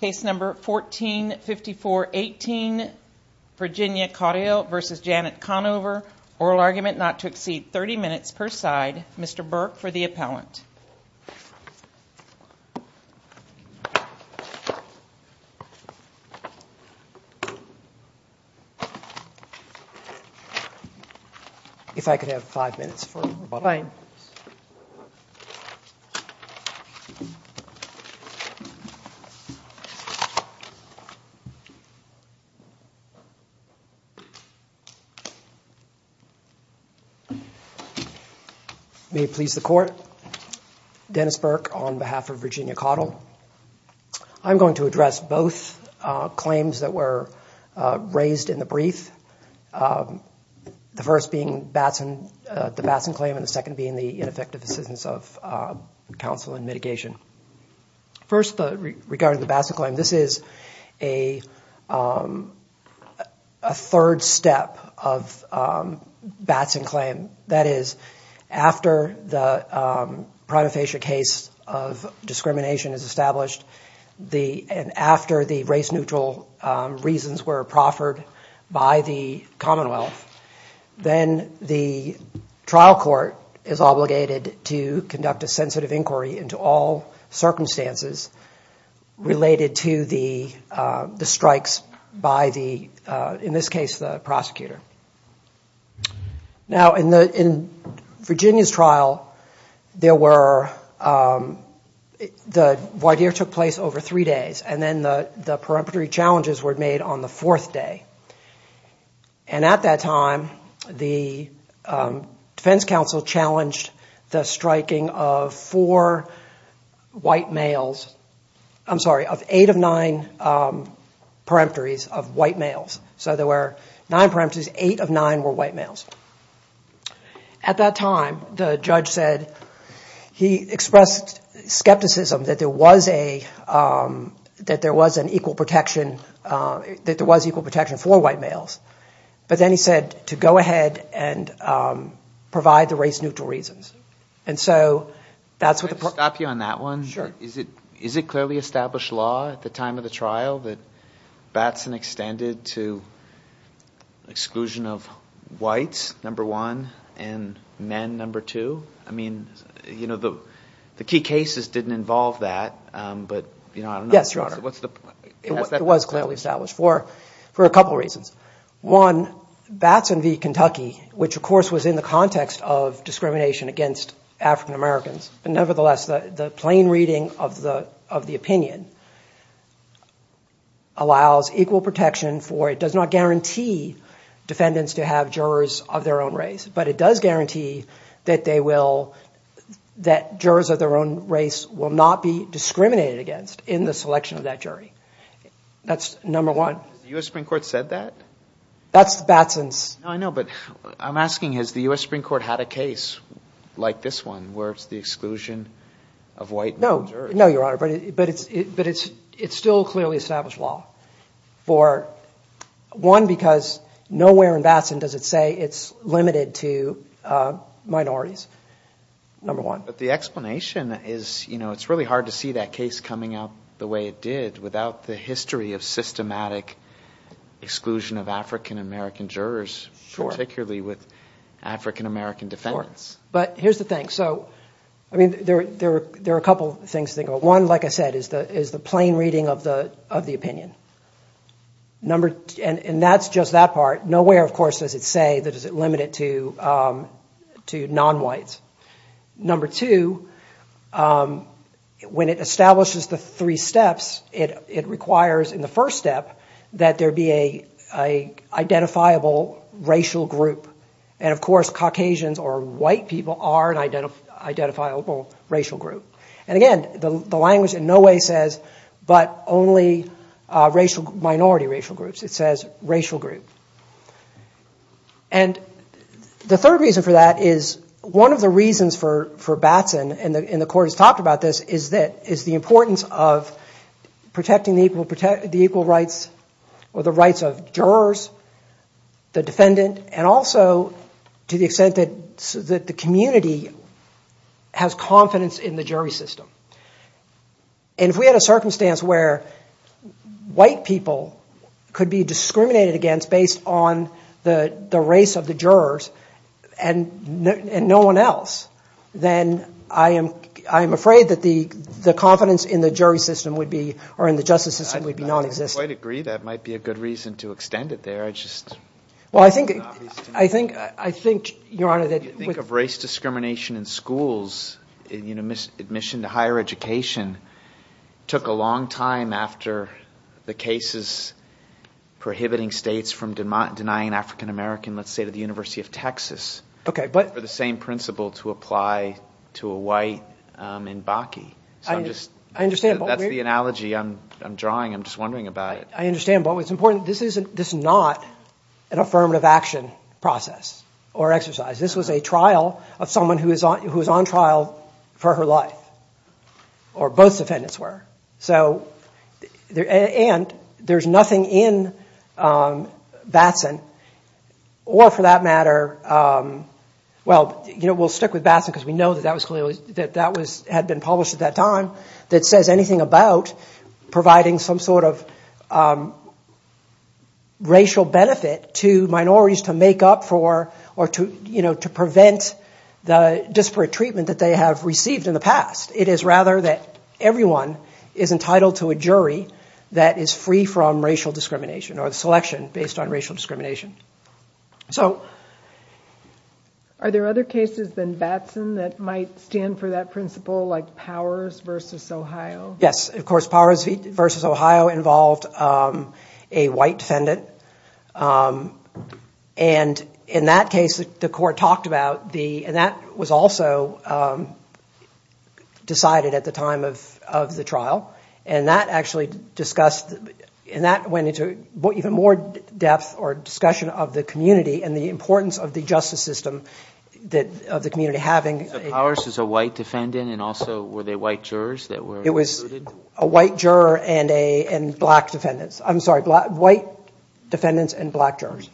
Case number 145418 Virginia Caudill v. Janet Conover. Oral argument not to exceed 30 minutes per side. Mr. Burke for the appellant. If I could have five minutes for the rebuttal. May it please the Court, Dennis Burke on I'm going to address both claims that were raised in the brief. The first being the Batson claim and the second being the ineffective assistance of counsel in mitigation. First, regarding the Batson claim, this is a third step of Batson claim. That is, after the prima is established and after the race neutral reasons were proffered by the Commonwealth, then the trial court is obligated to conduct a sensitive inquiry into all circumstances related to the strikes by, in this case, the prosecutor. In Virginia's trial, the voir dire took place over three days and then the preemptory challenges were made on the fourth day. At that time, defense counsel challenged the striking of eight of nine preemptories of white males. So there were nine preemptories, eight of nine were white males. At that time, the judge said he expressed skepticism that there was an equal protection for white males. But then he said, to go ahead and provide the race neutral reasons. And so, that's what the... Can I just stop you on that one? Is it clearly established law at the time of the trial that Batson extended to exclusion of whites, number one, and men, number two? I mean, you know, the key cases didn't involve that. Yes, Your Honor. It was clearly established for a couple of reasons. One, Batson v. Kentucky, which of course was in the context of discrimination against African Americans, but nevertheless, the plain reading of the opinion allows equal protection for, it does not guarantee defendants to have jurors of their own race, but it does guarantee that they will, that jurors of their own race will not be discriminated against in the selection of that jury. That's number one. The U.S. Supreme Court said that? That's Batson's... No, I know, but I'm asking, has the U.S. Supreme Court had a case like this one, where it's the exclusion of white men and jurors? No, Your Honor, but it's still clearly established law for, one, because nowhere in Batson does it say it's limited to minorities, number one. But the explanation is, you know, it's really hard to see that case coming out the way it did without the history of systematic exclusion of African American jurors, particularly with African American defendants. But here's the thing. So, I mean, there are a couple things to think about. One, like I said, is the plain reading of the opinion. And that's just that part. Nowhere, of course, does it say that it's limited to non-whites. Number two, when it establishes the three steps, it requires, in the first step, that there be a identifiable racial group. And, of course, Caucasians or white people are an identifiable racial group. And, again, the language in no way says, but only racial, minority racial groups. It says racial group. And the third reason for that is, one of the reasons for Batson, and the court has talked about this, is the importance of protecting the equal rights or the rights of jurors, the defendant, and also to the extent that the community has confidence in the jury system. And if we had a circumstance where white people could be discriminated against based on the race of the jurors, and no one else, then I am afraid that the confidence in the jury system would be, or in the justice system, would be non-existent. I quite agree. That might be a good reason to extend it there. I just, well, I think, I think, I think, Your Honor, that if you think of race discrimination in schools, you know, admission to higher education took a long time after the cases prohibiting states from denying an African-American, let's say, to the University of Texas. Okay, but. For the same principle to apply to a white in Bakke. I understand. That's the analogy I'm drawing. I'm just wondering about it. I understand, but what's important, this isn't, this is not an affirmative action process or exercise. This was a trial of someone who is on, who is on trial for her life, or both defendants were, so and there's nothing in Batson, or for that matter, well, you know, we'll stick with Batson because we know that that was clearly, that that was, had been published at that time, that says anything about providing some sort of racial benefit to minorities to make up for, or to, you know, to prevent the disparate treatment that they have received in the past. It is rather that everyone is entitled to a jury that is free from racial discrimination, or the selection based on racial discrimination. So, Are there other cases than Batson that might stand for that principle, like Powers v. Ohio? Yes, of course, Powers v. Ohio involved a white defendant, and in that case, the court talked about the, and that was also decided at the time of the trial, and that actually discussed, and that went into what even more depth or discussion of the community, and the importance of the justice system, that of the community having, Powers is a white defendant, and also were they white jurors that were, it was a white juror and a black defendants, I'm sorry, black, white defendants and black jurors.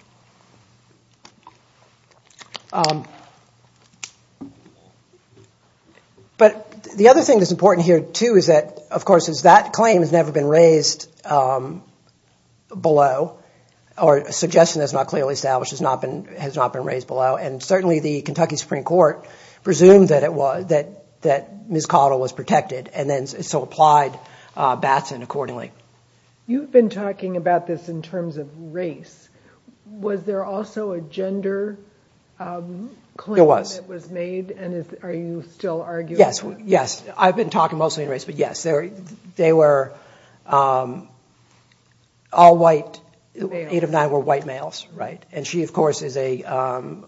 But the other thing that's important here, too, is that, of course, is that claim has never been raised below, or a suggestion that's not clearly established has not been, has not been raised below, and certainly the Kentucky Supreme Court presumed that it was, that, that Ms. Cottle was protected, and then so applied Batson accordingly. You've been talking about this in terms of race. Was there also a gender claim that was made, and are you still arguing? Yes, yes, I've been talking mostly in race, but yes, there, they were all white, eight of nine were white males, right, and she, of course, is a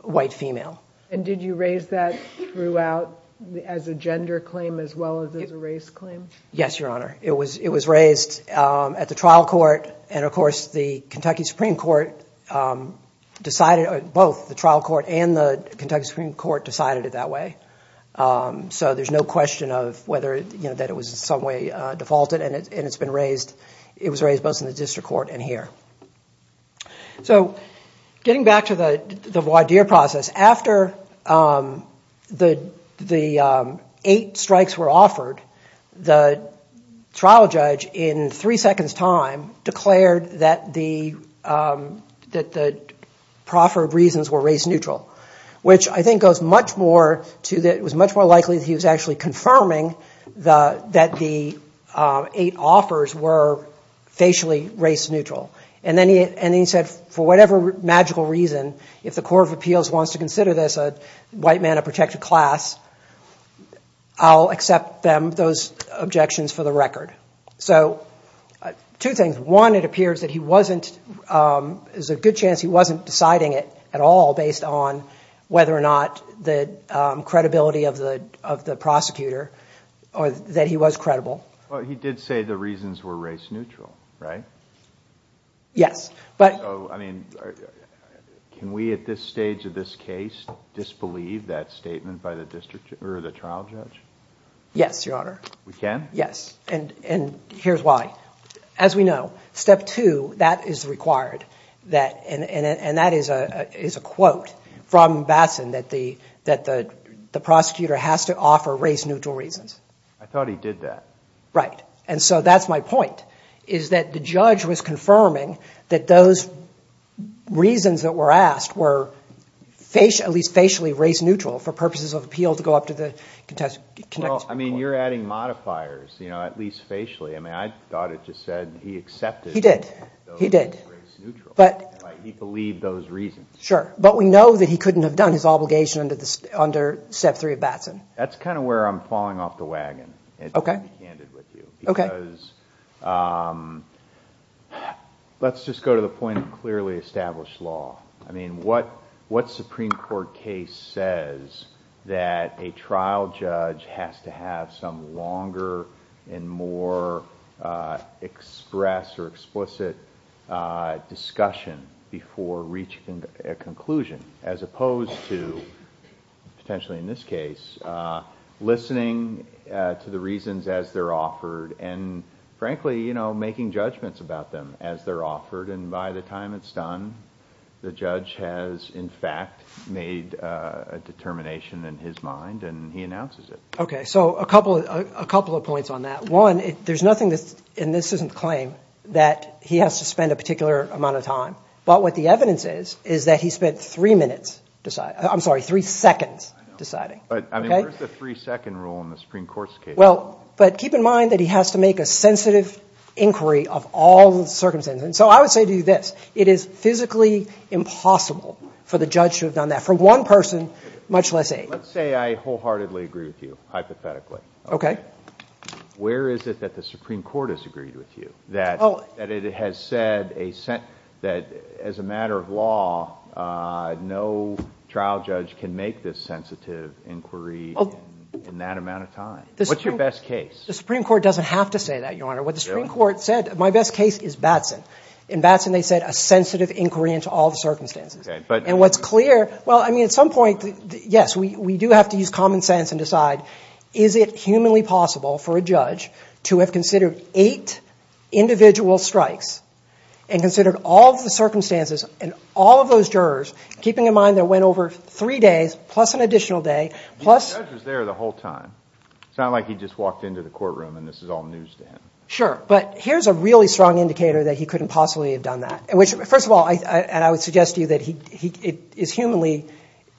white female. And did you raise that throughout, as a gender claim, as well as as a race claim? Yes, Your Honor. It was, it was raised at the trial court, and of course the Kentucky Supreme Court decided, both the trial court and the Kentucky Supreme Court decided it that way. So there's no question of whether, you know, that it was in some way defaulted, and it's been raised, it was raised both in the district court and here. So getting back to the voir dire process, after the, the eight strikes were offered, the trial judge, in three seconds time, declared that the that the proffered reasons were race-neutral, which I think goes much more to that, it was much more likely that he was actually confirming the, that the eight offers were facially race-neutral. And then he, and he said, for whatever magical reason, if the Court of Appeals wants to consider this a white man of protected class, I'll accept them, those objections, for the record. So two things. One, it appears that he wasn't, there's a good chance he wasn't deciding it at all based on whether or not the credibility of the, of the prosecutor, or that he was credible. Well, he did say the reasons were race-neutral, right? Yes, but... Can we, at this stage of this case, disbelieve that statement by the district, or the trial judge? Yes, Your Honor. We can? Yes, and, and here's why. As we know, step two, that is required, that, and, and that is a, is a quote from Bassan, that the, that the, the prosecutor has to offer race-neutral reasons. I thought he did that. Right, and so that's my point, is that the judge was confirming that those reasons that were asked were facially, at least facially, race-neutral for purposes of appeal to go up to the contextual court. Well, I mean, you're adding modifiers, you know, at least facially. I mean, I thought it just said he accepted. He did. He did. But... He believed those reasons. Sure, but we know that he couldn't have done his obligation under the, under step three of Bassan. That's kind of where I'm falling off the wagon. Okay. Okay. Because, let's just go to the point of clearly established law. I mean, what, what Supreme Court case says that a trial judge has to have some longer and more express or explicit discussion before reaching a conclusion, as opposed to, potentially in this case, listening to the reasons as they're offered and, frankly, you know, making judgments about them as they're offered. And by the time it's done, the judge has, in fact, made a determination in his mind, and he announces it. Okay, so a couple of, a couple of points on that. One, there's nothing that, and this isn't claim, that he has to spend a particular amount of time. But what the evidence is, is that he spent three minutes deciding. I'm sorry, three seconds deciding. But, I mean, where's the three-second rule in the Supreme Court's case? Well, but keep in mind that he has to make a sensitive inquiry of all the circumstances. And so I would say to you this, it is physically impossible for the judge to have done that for one person, much less eight. Let's say I wholeheartedly agree with you, hypothetically. Okay. Where is it that the Supreme Court has agreed with you? That, that it has said a sentence, that as a matter of law, no trial judge can make this sensitive inquiry in that amount of time. What's your best case? The Supreme Court doesn't have to say that, Your Honor. What the Supreme Court said, my best case is Batson. In Batson, they said a sensitive inquiry into all the circumstances. Okay, but. And what's clear, well, I mean, at some point, yes, we do have to use common sense and decide, is it humanly possible for a judge to have considered eight individual strikes and considered all the circumstances and all of those jurors, keeping in mind that went over three days, plus an additional day, plus. The judge was there the whole time. It's not like he just walked into the courtroom and this is all news to him. Sure, but here's a really strong indicator that he couldn't possibly have done that. And which, first of all, I, and I would suggest to you that he, it is humanly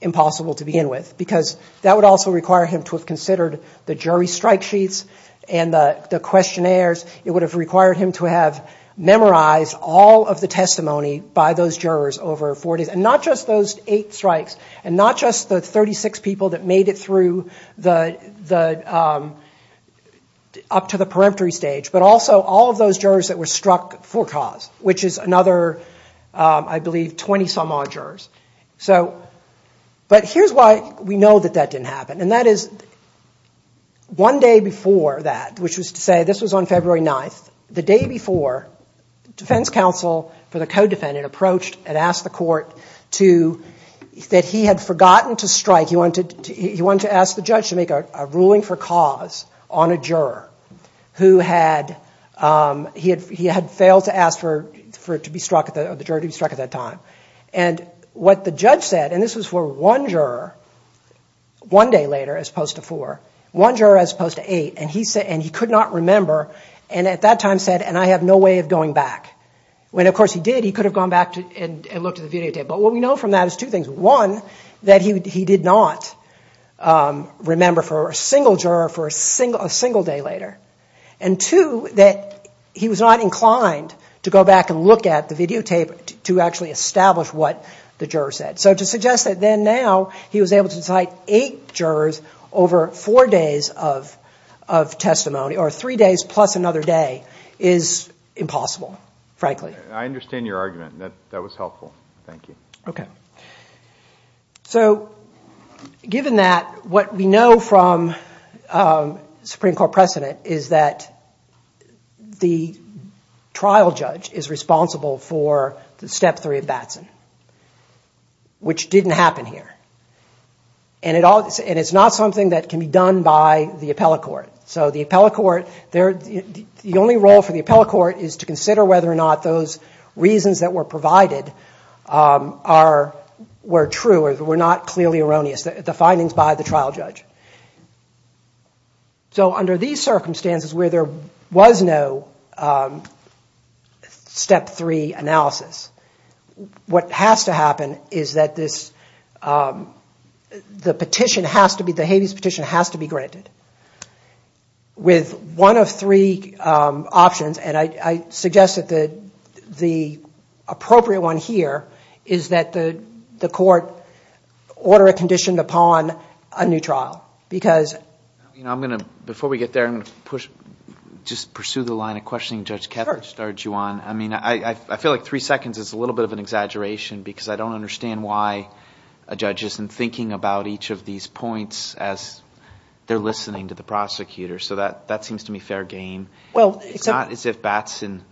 impossible to begin with, because that would also require him to have considered the jury strike sheets and the questionnaires. It would have required him to have memorized all of the testimony by those jurors over four days. And not just those eight strikes, and not just the 36 people that made it through the, the, up to the peremptory stage, but also all of those jurors that were struck for cause, which is another, I believe, 20-some-odd jurors. So, but here's why we know that that didn't happen. And that is, one day before that, which was to say, this was on February 9th, the day before, defense counsel for the co-defendant approached and asked the court to, that he had forgotten to strike, he wanted to, he wanted to ask the judge to make a ruling for cause on a juror, who had, he had, he had failed to ask for, for it to be struck at the, the jury to be struck at that time. And what the judge said, and this was for one juror, one day later, as opposed to four, one juror as opposed to eight, and he said, and he could not remember, and at that time said, and I have no way of going back. When, of course, he did, he could have gone back and looked at the videotape. But what we know from that is two things. One, that he did not remember for a single juror for a single, a single day later. And two, that he was not inclined to go back and look at the videotape to actually establish what the juror said. So to suggest that then, now, he was able to cite eight jurors over four days of, of testimony, or three days plus another day, is impossible, frankly. I understand your argument. That, that was helpful. Thank you. Okay. So, given that, what we know from Supreme Court precedent is that the trial judge is responsible for the step three of Batson. Which didn't happen here, and it all, and it's not something that can be done by the appellate court. So the appellate court, there, the only role for the appellate court is to consider whether or not those reasons that were provided are, were true, or were not clearly erroneous, the findings by the trial judge. So under these circumstances, where there was no step three analysis, what has to happen is that this, the petition has to be, the habeas petition has to be granted. With one of three options, and I suggest that the, the appropriate one here is that the, the court order a condition upon a new trial. Because, you know, I'm gonna, before we get there, I'm gonna push, just pursue the line of questioning Judge Ketler started you on. I mean, I, I feel like three seconds is a little bit of an exaggeration, because I don't understand why a judge isn't thinking about each of these points as they're listening to the prosecutor. So that, that seems to me fair game. Well, it's not as if Batson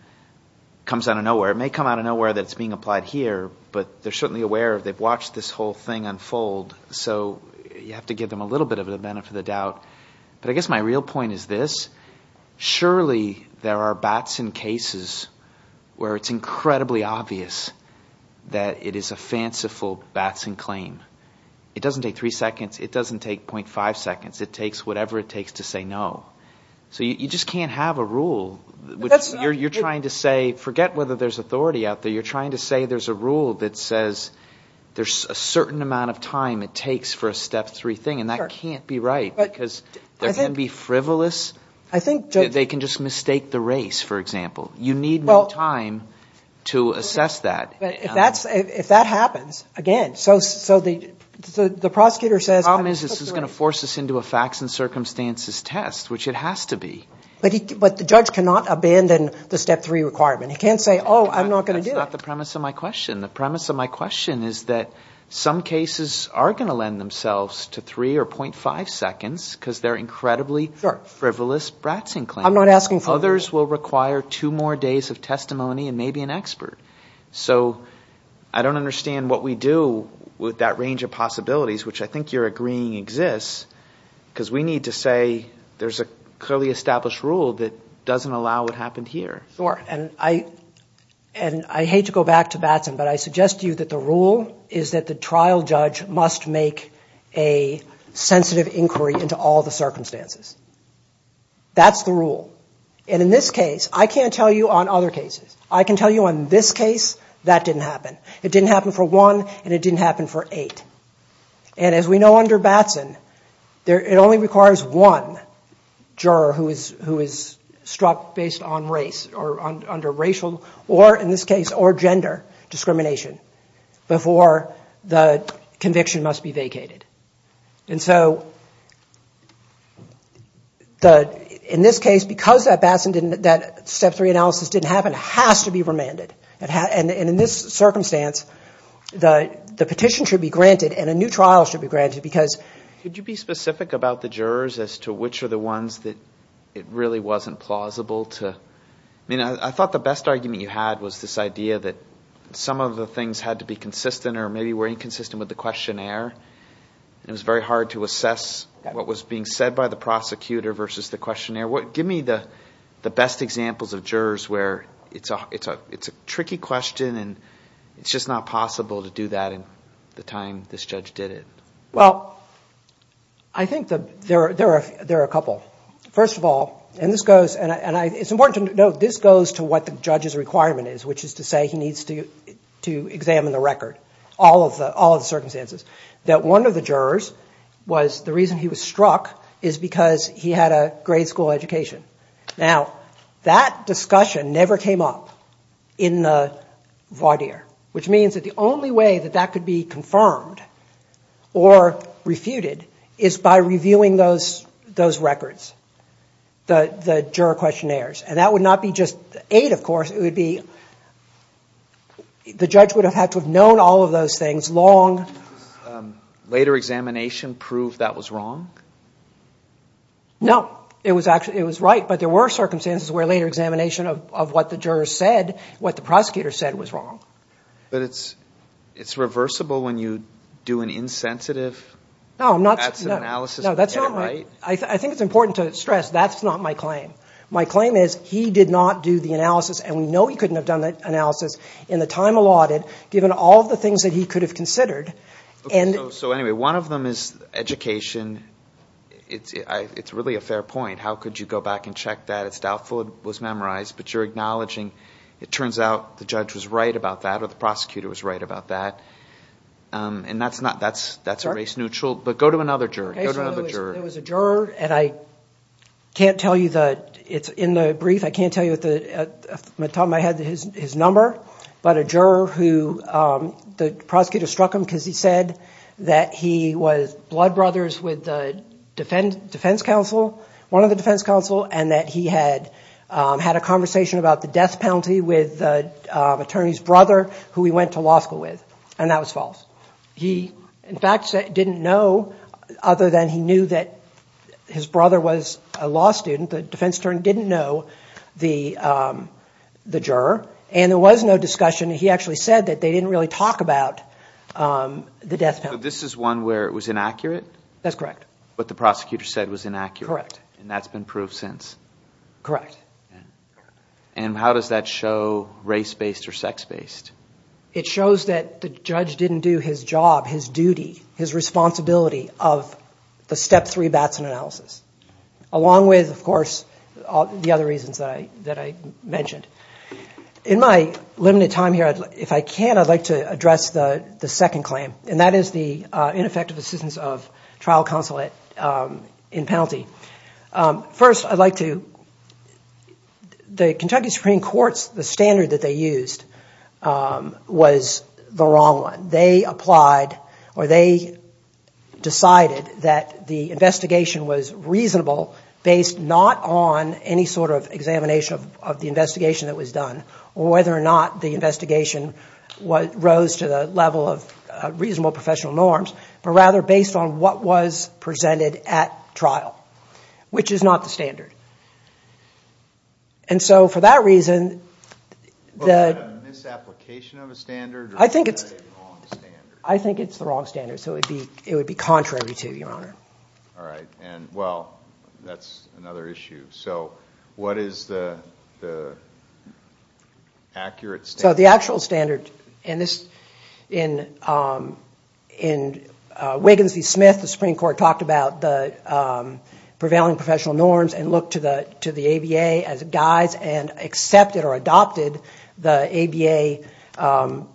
comes out of nowhere. It may come out of nowhere that it's being applied here, but they're certainly aware of, they've watched this whole thing unfold. So you have to give them a little bit of a benefit of the doubt. But I guess my real point is this. Surely, there are Batson cases where it's incredibly obvious that it is a fanciful Batson claim. It doesn't take three seconds. It doesn't take 0.5 seconds. It takes whatever it takes to say no. So you just can't have a rule, which you're, you're trying to say, forget whether there's authority out there, you're trying to say there's a rule that says there's a certain amount of time it takes for a step three thing, and that can't be right, because there can be frivolous. I think they can just mistake the race, for example. You need more time to assess that. But if that's, if that happens, again, so, so the, the prosecutor says, this is going to force us into a facts and circumstances test, which it has to be. But he, but the judge cannot abandon the step three requirement. He can't say, oh, I'm not going to do it. That's not the premise of my question. The premise of my question is that some cases are going to lend themselves to three or 0.5 seconds, because they're incredibly frivolous Batson claims. I'm not asking for... Others will require two more days of testimony and maybe an expert. So, I don't understand what we do with that range of possibilities, which I think you're agreeing exists, because we need to say there's a clearly established rule that doesn't allow what happened here. Sure, and I, and I hate to go back to Batson, but I suggest to you that the rule is that the trial judge must make a sensitive inquiry into all the circumstances. That's the rule. And in this case, I can't tell you on other cases. I can tell you on this case, that didn't happen. It didn't happen for one, and it didn't happen for eight. And as we know under Batson, there, it only requires one juror who is, who is struck based on race, or under racial, or in this case, or gender discrimination, before the conviction must be vacated. And so, the, in this case, because that Batson didn't, that step three analysis didn't happen, has to be remanded. It has, and in this circumstance, the, the petition should be granted, and a new trial should be granted, because... Could you be specific about the jurors as to which are the ones that it really wasn't plausible to, I mean, I thought the best argument you had was this idea that some of the things had to be consistent, or maybe were inconsistent with the questionnaire. It was very hard to assess what was being said by the prosecutor versus the questionnaire. What, give me the, the best examples of jurors where it's a, it's a, it's a tricky question, and it's just not possible to do that in the time this judge did it. Well, I think the, there are, there are, there are a couple. First of all, and this goes, and I, and I, it's important to note, this goes to what the judge's requirement is, which is to say he needs to, to examine the record, all of the, all of the circumstances, that one of the jurors was, the reason he was struck is because he had a grade school education. Now, that discussion never came up in the voir dire, which means that the only way that that could be confirmed, or refuted, is by reviewing those, those records, the, the juror questionnaires, and that would not be just aid, of course, it would be, the judge would have had to have known all of those things long... Later examination proved that was wrong? No, it was actually, it was right, but there were circumstances where later examination of what the jurors said, what the prosecutor said was wrong. But it's, it's reversible when you do an insensitive analysis. No, I'm not, no, that's not right. I think it's important to stress, that's not my claim. My claim is he did not do the analysis, and we know he couldn't have done that analysis in the time allotted, given all the things that he could have considered, and... So anyway, one of them is education. It's, it's really a fair point. How could you go back and check that? It's doubtful it was memorized, but you're acknowledging, it turns out the judge was right about that, or the prosecutor was right about that, and that's not, that's, that's a race-neutral, but go to another juror, go to another juror. Okay, so there was a juror, and I can't tell you that, it's in the brief, I can't tell you at the, at the top of my head, his number, but a juror who, the prosecutor struck him because he said that he was blood brothers with the defense, defense counsel, one of the defense counsel, and that he had, had a conversation about the death penalty with the attorney's brother, who he went to law school with, and that was false. He, in fact, said, didn't know, other than he knew that his brother was a law student, the defense attorney didn't know the, the juror, and there was no discussion. He actually said that they didn't really talk about the death penalty. This is one where it was inaccurate? That's correct. What the prosecutor said was inaccurate? Correct. And that's been proved since? Correct, and how does that show race-based or sex-based? It shows that the judge didn't do his job, his duty, his responsibility of the step three Batson analysis, along with, of course, all the other reasons that I, that I mentioned. In my limited time here, if I can, I'd like to address the, the second claim, and that is the ineffective assistance of trial counsel at, in penalty. First, I'd like to, the Kentucky Supreme Court's, the standard that they used was the wrong one. They applied, or they decided that the investigation was reasonable based not on any sort of examination of the investigation that was done, or whether or not the investigation was, rose to the level of reasonable professional norms, but rather based on what was presented at trial, which is not the standard. And so, for that reason, the, misapplication of a standard? I think it's, I think it's the wrong standard. So it'd be, it would be contrary to, your honor. All right, and well, that's another issue. So what is the, the accurate standard? So the actual standard in this, in, in Wiggins v. Smith, the Supreme Court talked about the prevailing professional norms, and looked to the, to the ABA as guides, and accepted or adopted the ABA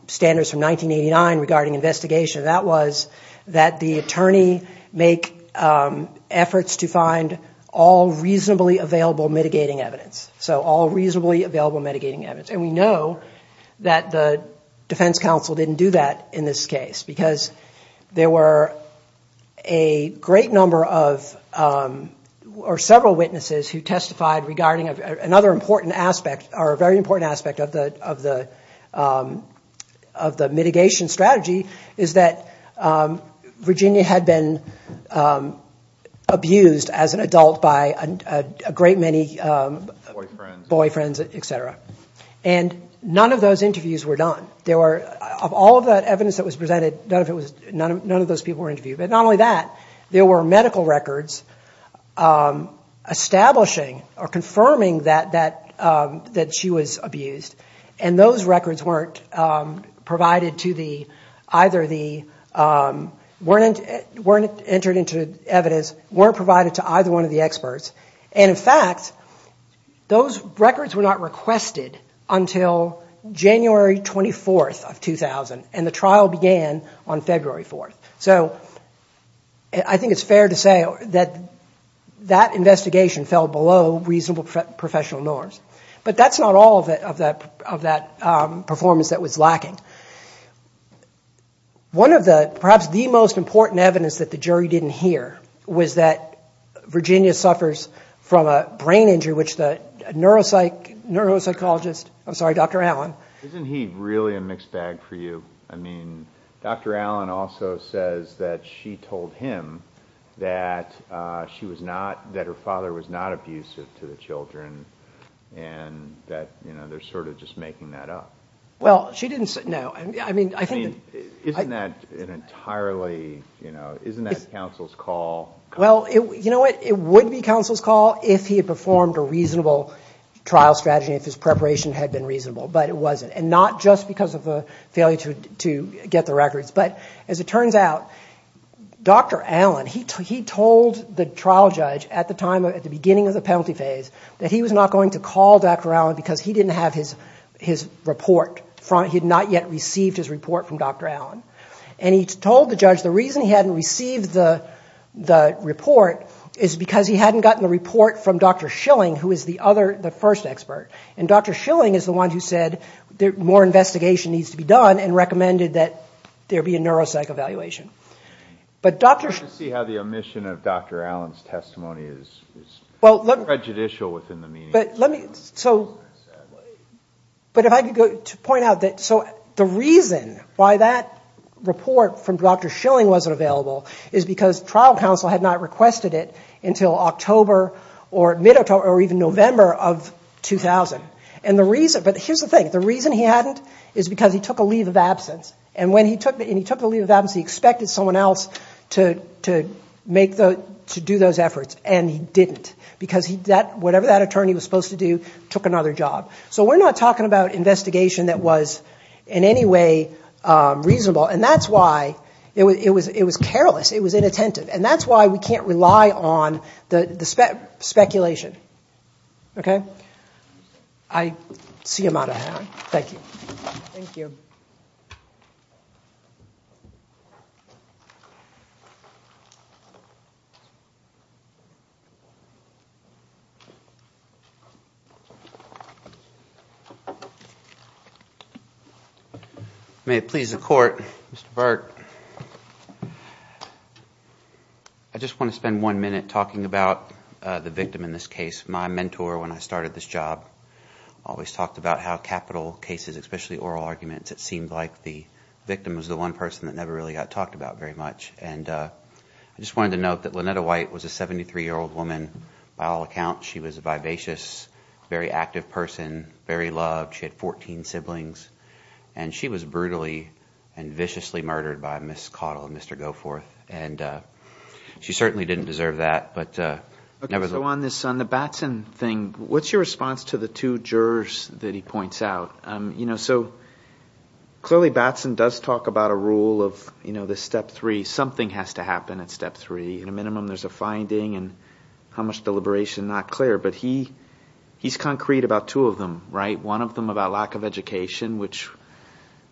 standards from 1989 regarding investigation. That was that the attorney make efforts to find all reasonably available mitigating evidence. So all reasonably available mitigating evidence, and we know that the Defense Counsel didn't do that in this case, because there were a great number of or several witnesses who testified regarding of another important aspect, or a very important aspect of the, of the, of the mitigation strategy, is that Virginia had been abused as an adult by a great many boyfriends, etc. And none of those interviews were done. There were, of all of that evidence that was presented, none of it was, none of, none of those people were interviewed. But not only that, there were medical records establishing or confirming that, that, that she was abused. And those records weren't provided to the, either the, weren't, weren't entered into evidence, weren't provided to either one of the experts. And in fact, those records were not requested until January 24th of 2000, and the trial began on February 4th. So, I think it's fair to say that that investigation fell below reasonable professional norms. But that's not all of that, of that, of that performance that was lacking. One of the, perhaps the most important evidence that the jury didn't hear, was that Virginia suffers from a brain injury, which the neuropsych, neuropsychologist, I'm sorry, Dr. Allen. Isn't he really a mixed bag for you? I mean, Dr. Allen also says that she told him that she was not, that her father was not abusive to the children, and that, you know, they're sort of just making that up. Well, she didn't say, no, I mean, I think, isn't that an entirely, you know, isn't that counsel's call? Well, you know what, it would be counsel's call if he had performed a reasonable trial strategy, if his preparation had been reasonable. But it wasn't, and not just because of a failure to get the records. But as it turns out, Dr. Allen, he told the trial judge at the time, at the beginning of the penalty phase, that he was not going to call Dr. Allen because he didn't have his, his report from, he had not yet received his report from Dr. Allen. And he told the judge the reason he hadn't received the, the report, is because he hadn't gotten the report from Dr. Schilling, who is the other, the first expert. And Dr. Schilling is the one who said there, more investigation needs to be done, and recommended that there be a neuropsych evaluation. But Dr. Schilling. I see how the omission of Dr. Allen's testimony is, is prejudicial within the meaning. But let me, so, but if I could go, to point out that, so the reason why that report from Dr. Schilling wasn't available is because trial counsel had not requested it until October or mid-October, or even November of 2000. And the reason, but here's the thing, the reason he hadn't is because he took a leave of absence. And when he took the, and he took the leave of absence, he expected someone else to, to make the, to do those efforts. And he didn't, because he, that, whatever that attorney was supposed to do, took another job. So we're not talking about investigation that was in any way reasonable. And that's why it was, it was, it was careless. It was inattentive. And that's why we can't rely on the, the speculation. Okay, I see him out of hand. Thank you. Thank you. May it please the court, Mr. Burt. I just want to spend one minute talking about the victim in this case. My mentor, when I started this job, always talked about how capital cases, especially oral arguments, it seemed like the victim was the one person that never really got talked about very much. And I just wanted to note that Lynetta White was a 73 year old woman. By all accounts, she was a vivacious, very active person, very loved. She had 14 siblings and she was brutally and viciously murdered by Ms. Cottle and Mr. Goforth. And she certainly didn't deserve that, but never. So on this, on the Batson thing, what's your response to the two jurors that he points out? You know, so clearly Batson does talk about a rule of, you know, the step three, something has to happen at step three. At a minimum, there's a finding and how much deliberation, not clear. But he, he's concrete about two of them, right? One of them about lack of education, which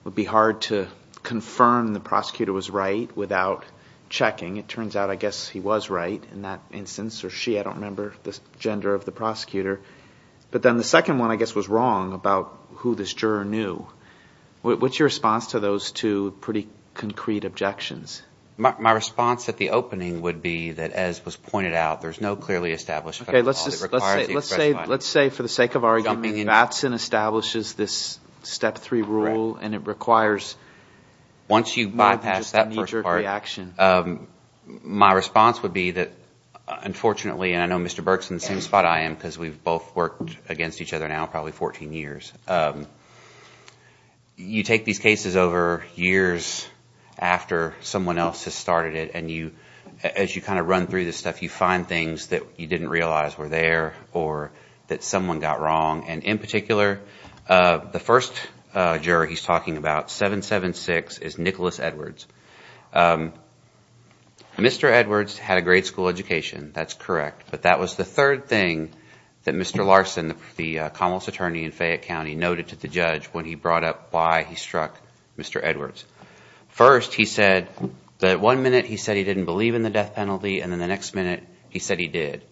would be hard to confirm the prosecutor was right without checking. It turns out, I guess he was right in that instance, or she, I don't remember the gender of the prosecutor. But then the second one, I guess, was wrong about who this juror knew. What's your response to those two pretty concrete objections? My response at the opening would be that, as was pointed out, there's no clearly established. Okay, let's just, let's say, let's say for the sake of argument, Batson establishes this step three rule and it requires, once you bypass that first part, my response would be that, unfortunately, and I know Mr. Burke's in the same spot I am because we've both worked against each other now probably 14 years, you take these cases over years after someone else has started it and you, as you kind of run through this stuff, you find things that you didn't realize were there or that someone got wrong. And in particular, the first juror he's talking about, 776, is Nicholas Edwards. Mr. Edwards had a great school education. That's correct. But that was the third thing that Mr. Larson, the Commonwealth's attorney in Fayette County, noted to the judge when he brought up why he struck Mr. Edwards. First, he said that one minute he said he didn't believe in the death penalty and then the next minute he said he did.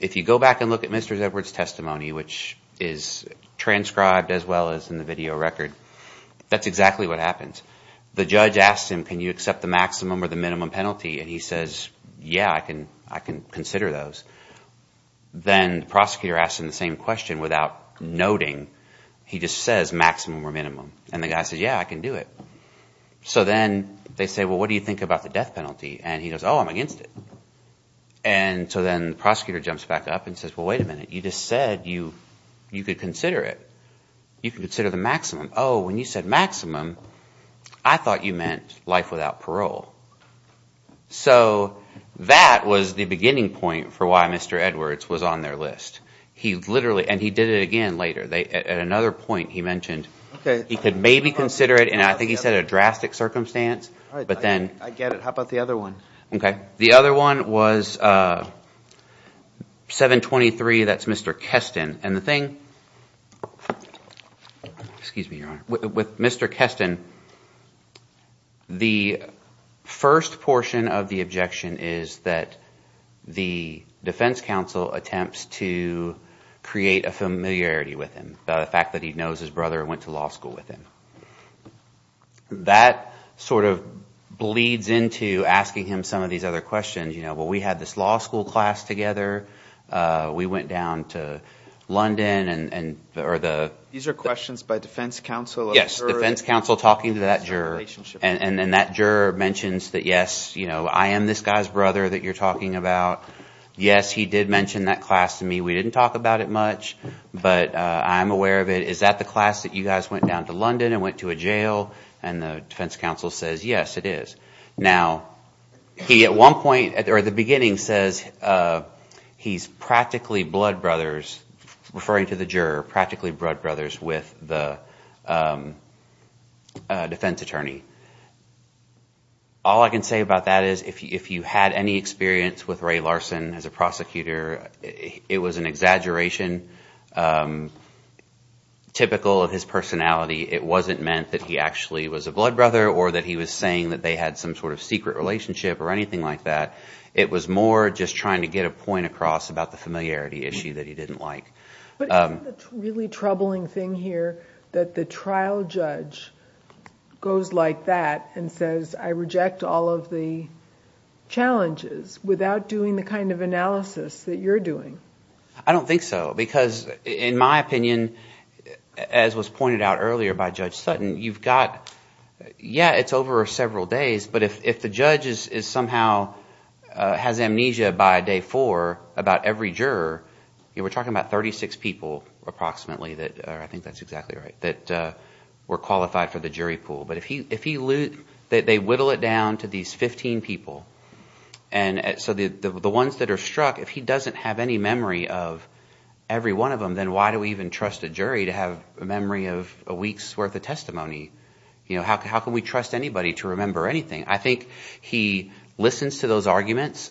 If you go back and look at Mr. Edwards' testimony, which is transcribed as well as in the video record, that's exactly what happens. The judge asked him to give a statement. Can you accept the maximum or the minimum penalty? And he says, yeah, I can consider those. Then the prosecutor asked him the same question without noting. He just says maximum or minimum. And the guy says, yeah, I can do it. So then they say, well, what do you think about the death penalty? And he goes, oh, I'm against it. So then the prosecutor jumps back up and says, well, wait a minute. You just said you could consider it. You can consider the maximum. Oh, when you said maximum, I thought you meant life without parole. So that was the beginning point for why Mr. Edwards was on their list. He literally, and he did it again later, at another point he mentioned he could maybe consider it, and I think he said a drastic circumstance, but then... I get it. How about the other one? Okay, the other one was 723, that's Mr. Keston, and the thing with Mr. Keston, the first portion of the objection is that the Defense Counsel attempts to create a familiarity with him, the fact that he knows his brother went to law school with him. That sort of bleeds into asking him some of these other questions, you know, well, we had this law school class together, we went down to the... These are questions by Defense Counsel. Yes, Defense Counsel talking to that juror, and then that juror mentions that, yes, you know, I am this guy's brother that you're talking about. Yes, he did mention that class to me. We didn't talk about it much, but I'm aware of it. Is that the class that you guys went down to London and went to a jail? And the Defense Counsel says, yes, it is. Now, he at one point, or at the beginning, says he's practically blood brothers, referring to the juror, practically blood brothers with the defense attorney. All I can say about that is if you had any experience with Ray Larson as a prosecutor, it was an exaggeration. Typical of his personality, it wasn't meant that he actually was a blood brother or that he was saying that they had some sort of secret relationship or anything like that. It was more just trying to get a point across about the familiarity issue that he didn't like. But isn't the really troubling thing here that the trial judge goes like that and says I reject all of the challenges without doing the kind of analysis that you're doing? I don't think so, because in my opinion, as was pointed out earlier by Judge Sutton, you've got... But if the judge somehow has amnesia by day four about every juror, we're talking about 36 people approximately that, I think that's exactly right, that were qualified for the jury pool. But if they whittle it down to these 15 people, and so the ones that are struck, if he doesn't have any memory of every one of them, then why do we even trust a jury to have a memory of a week's worth of testimony? You know, how can we trust anybody to remember anything? I think he listens to those arguments.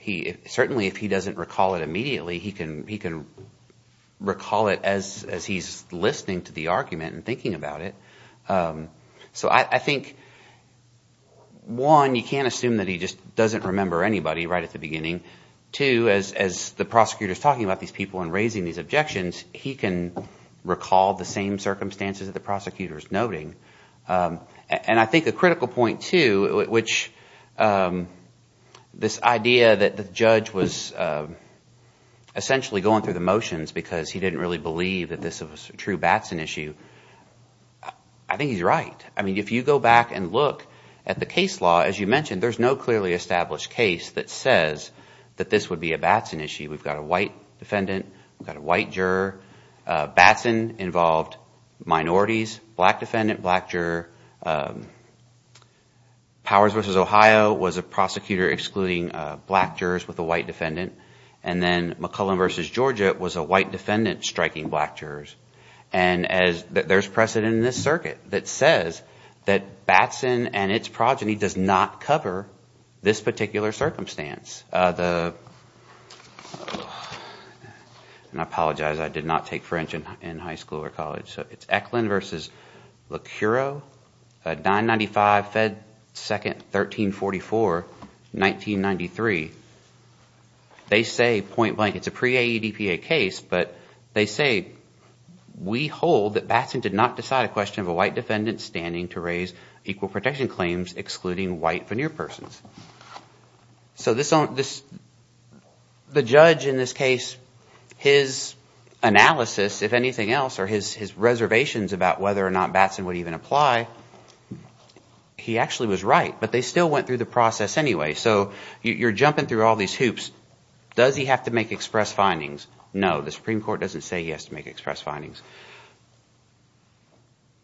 Certainly, if he doesn't recall it immediately, he can recall it as he's listening to the argument and thinking about it. So I think, one, you can't assume that he just doesn't remember anybody right at the beginning. Two, as the prosecutor is talking about these people and raising these objections, he can recall the same circumstances that the prosecutor is noting. And I think a critical point, too, which this idea that the judge was essentially going through the motions because he didn't really believe that this was a true Batson issue, I think he's right. I mean, if you go back and look at the case law, as you mentioned, there's no clearly established case that says that this would be a Batson issue. We've got a white defendant, we've got a white juror, Batson involved minorities, black defendant, black juror, Powers v. Ohio was a prosecutor excluding black jurors with a white defendant, and then McClellan v. Georgia was a white defendant striking black jurors. And there's precedent in this circuit that says that Batson and its progeny does not cover this particular circumstance. The... And I apologize, I did not take French in high school or college, so it's Eklund v. Locuro, 995, Fed 2nd, 1344, 1993. They say point-blank, it's a pre-AEDPA case, but they say we hold that Batson did not decide a question of a white defendant standing to raise equal protection claims excluding white veneer persons. So this... The judge in this case, his analysis, if anything else, or his reservations about whether or not Batson would even apply, he actually was right, but they still went through the process anyway. So you're jumping through all these hoops. Does he have to make express findings? No, the Supreme Court doesn't say he has to make express findings.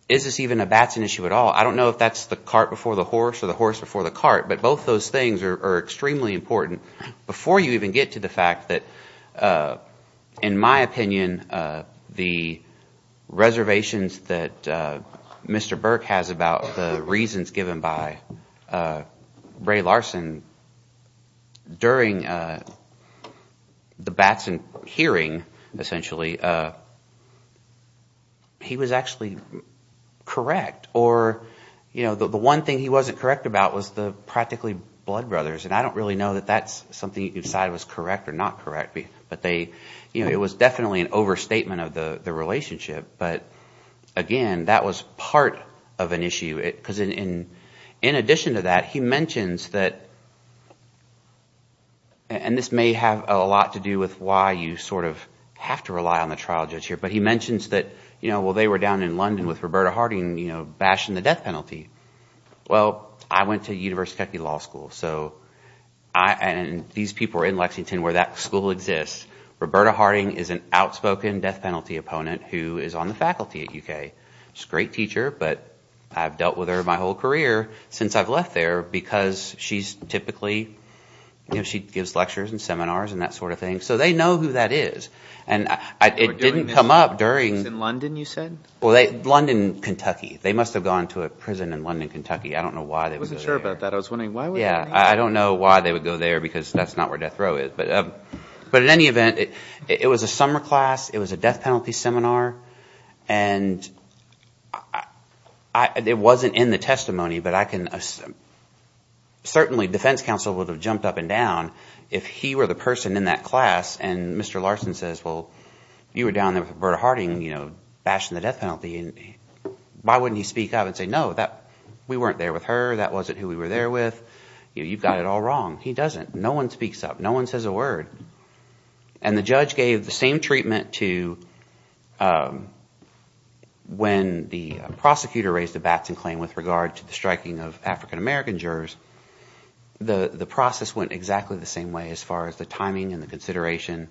Is this even a Batson issue at all? I don't know if that's the cart before the horse or the horse before the cart, but both those things are extremely important. Before you even get to the fact that, in my opinion, the reservations that Mr. Burke has about the reasons given by Ray Larson during the Batson hearing, essentially, he was actually correct or you know, the one thing he wasn't correct about was the practically blood brothers, and I don't really know that that's something you can decide was correct or not correct, but they, you know, it was definitely an overstatement of the relationship, but again, that was part of an issue. Because in addition to that, he mentions that, and this may have a lot to do with why you sort of have to rely on the trial judge here, but he mentions that, you know, well, they were down in London with Roberta Harding, you know, bashing the death penalty. Well, I went to University of Kentucky Law School, so and these people were in Lexington where that school exists. Roberta Harding is an outspoken death penalty opponent who is on the faculty at UK. She's a great teacher, but I've dealt with her my whole career since I've left there because she's typically, you know, she gives lectures and seminars and that sort of thing, so they know who that is, and it didn't come up during... It was in London, you said? Well, London, Kentucky. They must have gone to a prison in London, Kentucky. I don't know why they would go there. I wasn't sure about that. I was wondering why they would go there. Yeah, I don't know why they would go there because that's not where death row is, but but in any event, it was a summer class. It was a death penalty seminar, and it wasn't in the testimony, but I can certainly, defense counsel would have jumped up and down if he were the person in that class, and Mr. Larson says, well, if you were down there with Roberta Harding, you know, bashing the death penalty, why wouldn't he speak up and say, no, we weren't there with her. That wasn't who we were there with. You know, you've got it all wrong. He doesn't. No one speaks up. No one says a word, and the judge gave the same treatment to when the prosecutor raised a batting claim with regard to the striking of African-American jurors. The process went exactly the same way as far as the timing and the consideration,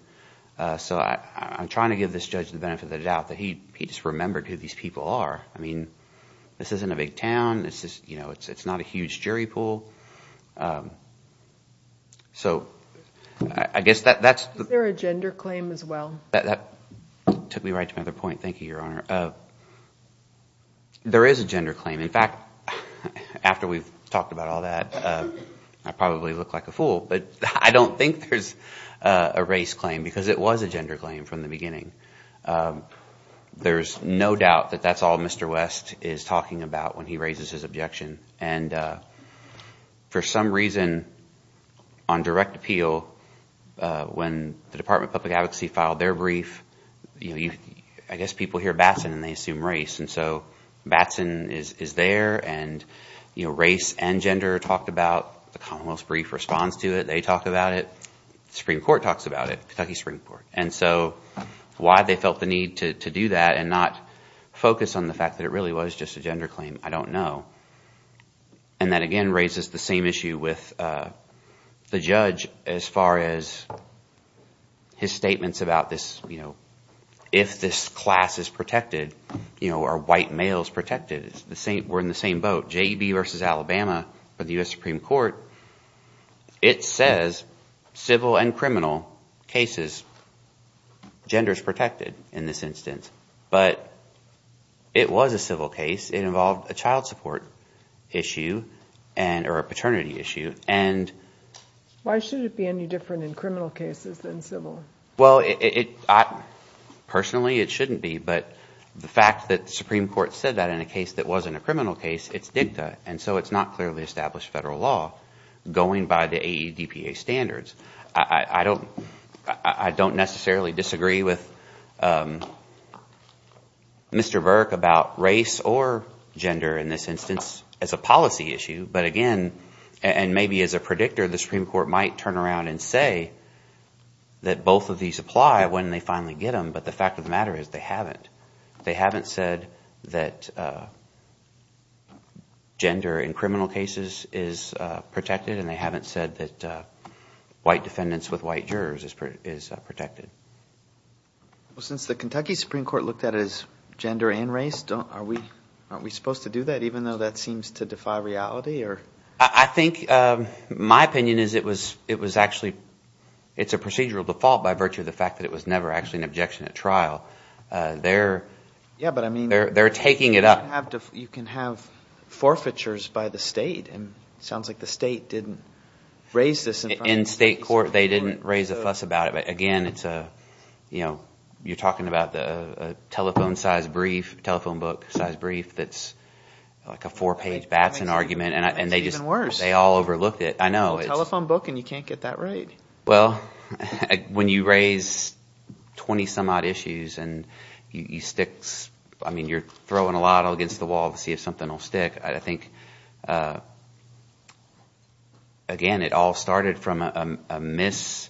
so I'm trying to give this judge the benefit of the doubt that he just remembered who these people are. I mean, this isn't a big town. It's just, you know, it's not a huge jury pool. So, I guess that's... Is there a gender claim as well? That took me right to another point. Thank you, Your Honor. There is a gender claim. In fact, after we've talked about all that, I probably look like a fool, but I don't think there's a race claim because it was a gender claim from the beginning. There's no doubt that that's all Mr. West is talking about when he raises his objection, and for some reason, on direct appeal, when the Department of Public Advocacy filed their brief, you know, I guess people hear Batson and they assume race, and so Batson is there, and race and gender are talked about. The Commonwealth's brief responds to it. They talk about it. The Supreme Court talks about it, Kentucky Supreme Court, and so why they felt the need to do that and not focus on the fact that it really was just a gender claim, I don't know, and that again raises the same issue with the judge as far as his statements about this, you know, if this class is protected, you know, are white males protected? We're in the same boat. J.E.B. versus Alabama for the U.S. Supreme Court, it says civil and criminal cases, gender is protected in this instance, but it was a civil case. It involved a child support issue and or a paternity issue and Why should it be any different in criminal cases than civil? Well, I personally, it shouldn't be, but the fact that the Supreme Court said that in a case that wasn't a criminal case, it's dicta, and so it's not clearly established federal law going by the AEDPA standards. I don't I don't necessarily disagree with Mr. Burke about race or gender in this instance as a policy issue, but again, and maybe as a predictor, the Supreme Court might turn around and say that both of these apply when they finally get them, but the fact of the matter is they haven't. They haven't said that gender in criminal cases is protected and they haven't said that white defendants with white jurors is protected. Well, since the Kentucky Supreme Court looked at it as gender and race, don't, are we, aren't we supposed to do that even though that seems to defy reality or? I think my opinion is it was, it was actually, it's a procedural default by virtue of the fact that it was never actually an objection at trial. They're, yeah, but I mean, they're taking it up. You can have forfeitures by the state and sounds like the state didn't raise this. In state court, they didn't raise a fuss about it, but again, it's a, you know, you're talking about the telephone size brief, telephone book size brief, that's like a four-page Batson argument and they just, they all overlooked it. I know. It's a telephone book and you can't get that right. Well, when you raise 20 some odd issues and you stick, I mean, you're throwing a lot against the wall to see if something will stick. I think again, it all started from a miss,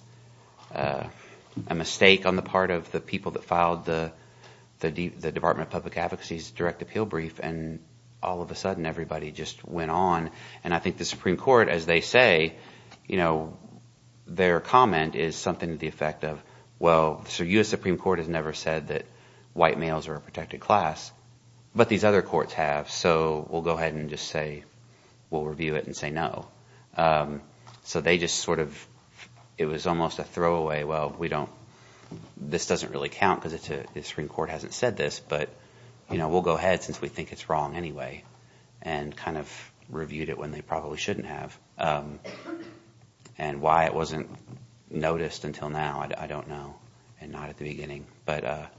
a mistake on the part of the people that filed the case and all of a sudden everybody just went on and I think the Supreme Court, as they say, you know, their comment is something to the effect of, well, so US Supreme Court has never said that white males are a protected class, but these other courts have, so we'll go ahead and just say, we'll review it and say no. So they just sort of, it was almost a throwaway. Well, we don't, this doesn't really count because it's a, the Supreme Court hasn't said this, but you know, we'll go ahead since we think it's wrong anyway. And kind of reviewed it when they probably shouldn't have. And why it wasn't noticed until now, I don't know and not at the beginning, but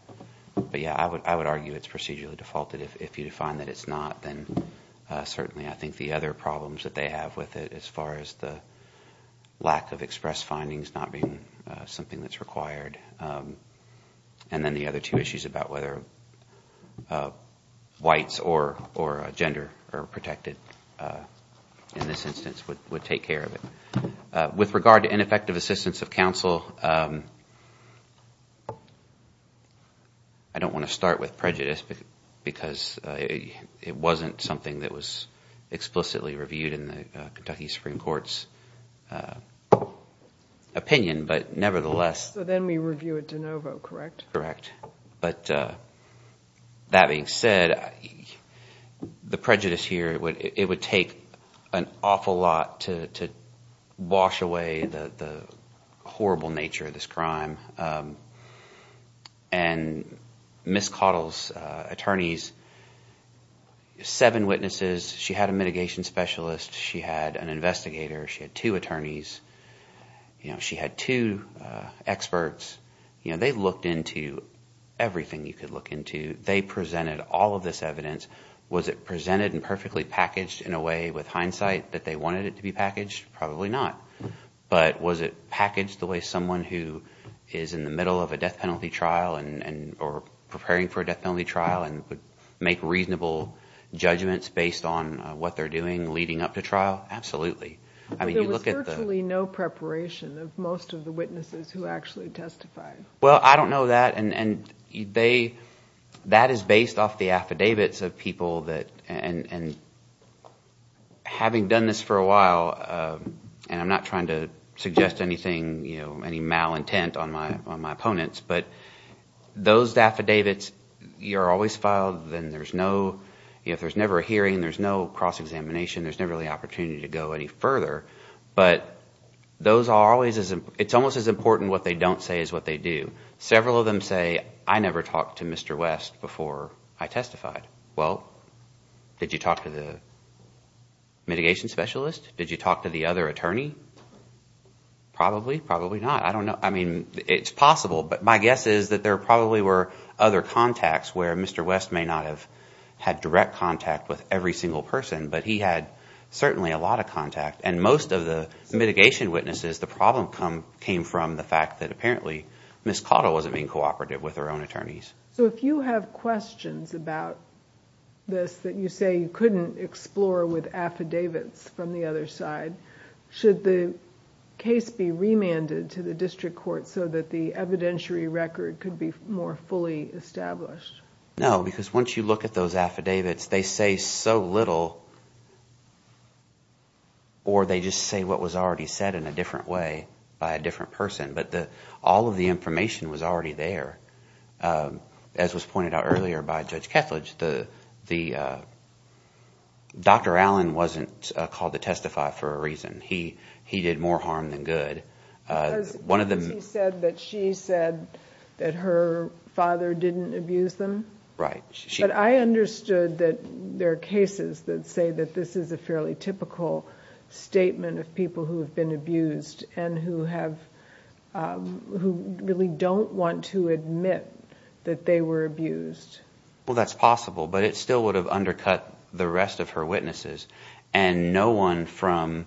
but yeah, I would, I would argue it's procedurally defaulted. If you define that it's not, then certainly, I think the other problems that they have with it as far as the lack of express findings not being something that's required. And then the other two issues about whether whites or gender are protected in this instance, would take care of it. With regard to ineffective assistance of counsel, I don't want to start with prejudice because it wasn't something that was explicitly reviewed in the Kentucky Supreme Court's opinion, but nevertheless. So then we review it de novo, correct? Correct, but that being said, the prejudice here, it would take an awful lot to wash away the horrible nature of this crime. And Ms. Cottle's attorneys, seven witnesses, she had a mitigation specialist, she had an investigator, she had two attorneys, you know, she had two experts, you know, they looked into everything you could look into. They presented all of this evidence. Was it presented and perfectly packaged in a way with hindsight that they wanted it to be packaged? Probably not. But was it packaged the way someone who is in the middle of a death penalty trial and or preparing for a death penalty trial and would make reasonable judgments based on what they're doing leading up to trial? Absolutely. I mean, you look at the... There was virtually no preparation of most of the witnesses who actually testified. Well, I don't know that and they... that is based off the affidavits of people that and having done this for a while, and I'm not trying to suggest anything, you know, any malintent on my opponents, but those affidavits, you're always filed, then there's no, you know, if there's never a hearing, there's no cross-examination, there's never the opportunity to go any further, but those are always as... It's almost as important what they don't say as what they do. Several of them say, I never talked to Mr. West before I testified. Well, did you talk to the mitigation specialist? Did you talk to the other attorney? Probably, probably not. I don't know. I mean, it's possible, but my guess is that there probably were other contacts where Mr. West may not have had direct contact with every single person, but he had certainly a lot of contact, and most of the mitigation witnesses, the problem come came from the fact that apparently Ms. Cottle wasn't being cooperative with her own attorneys. So if you have questions about this that you say you couldn't explore with affidavits from the other side, should the case be remanded to the district court so that the evidentiary record could be more fully established? No, because once you look at those affidavits, they say so little or they just say what was already said in a different way by a different person, but the all of the information was already there. As was pointed out earlier by Judge Kethledge, the Dr. Allen wasn't called to testify for a reason. He did more harm than good. Because he said that she said that her father didn't abuse them. Right. But I understood that there are cases that say that this is a fairly typical statement of people who have been abused and who have who really don't want to admit that they were abused. Well, that's possible, but it still would have undercut the rest of her witnesses and no one from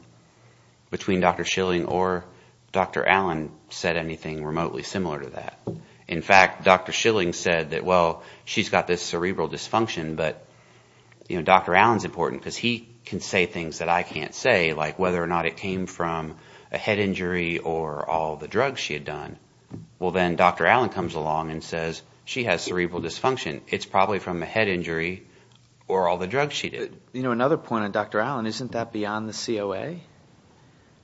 between Dr. Schilling or Dr. Allen said anything remotely similar to that. In fact, Dr. Schilling said that well she's got this cerebral dysfunction, but you know, Dr. Allen's important because he can say things that I can't say like whether or not it came from a head injury or all the drugs she had done. Well, then Dr. Allen comes along and says she has cerebral dysfunction. It's probably from a head injury or all the drugs she did. You know another point of Dr. Allen, isn't that beyond the COA?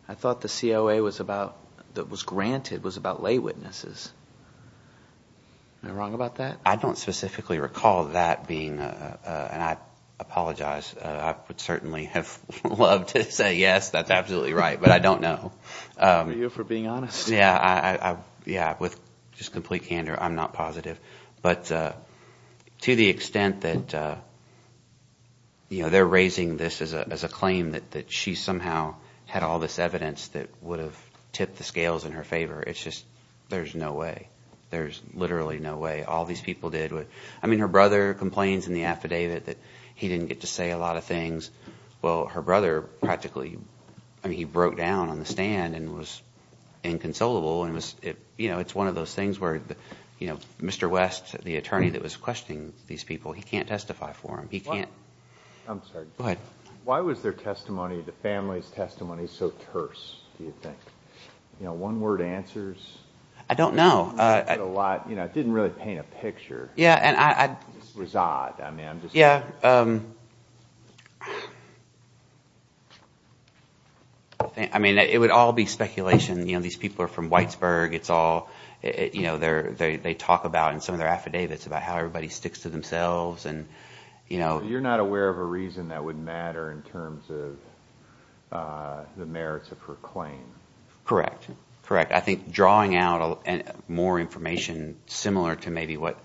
I thought the COA was about that was granted was about lay witnesses. Am I wrong about that? I don't specifically recall that being and I apologize. I would certainly have loved to say yes, that's absolutely right, but I don't know. For being honest. Yeah. Yeah with just complete candor. I'm not positive but to the extent that you know, they're raising this as a claim that she somehow had all this evidence that would have tipped the scales in her favor. It's just there's no way. There's literally no way all these people did what I mean her brother complains in the affidavit that he didn't get to say a lot of things. Well her brother practically I mean, he broke down on the stand and was inconsolable and was it you know, it's one of those things where you know, Mr. West the attorney that was questioning these people. He can't testify for him. He can't. I'm sorry. Why was their testimony the family's testimony so terse, do you think? You know one word answers. I don't know a lot You know, it didn't really paint a picture. Yeah, and I was odd. I mean, yeah I mean it would all be speculation, you know, these people are from Whitesburg it's all you know, they're they talk about and some of their affidavits about how everybody sticks to themselves and you know You're not aware of a reason that would matter in terms of the merits of her claim Correct. Correct. I think drawing out and more information similar to maybe what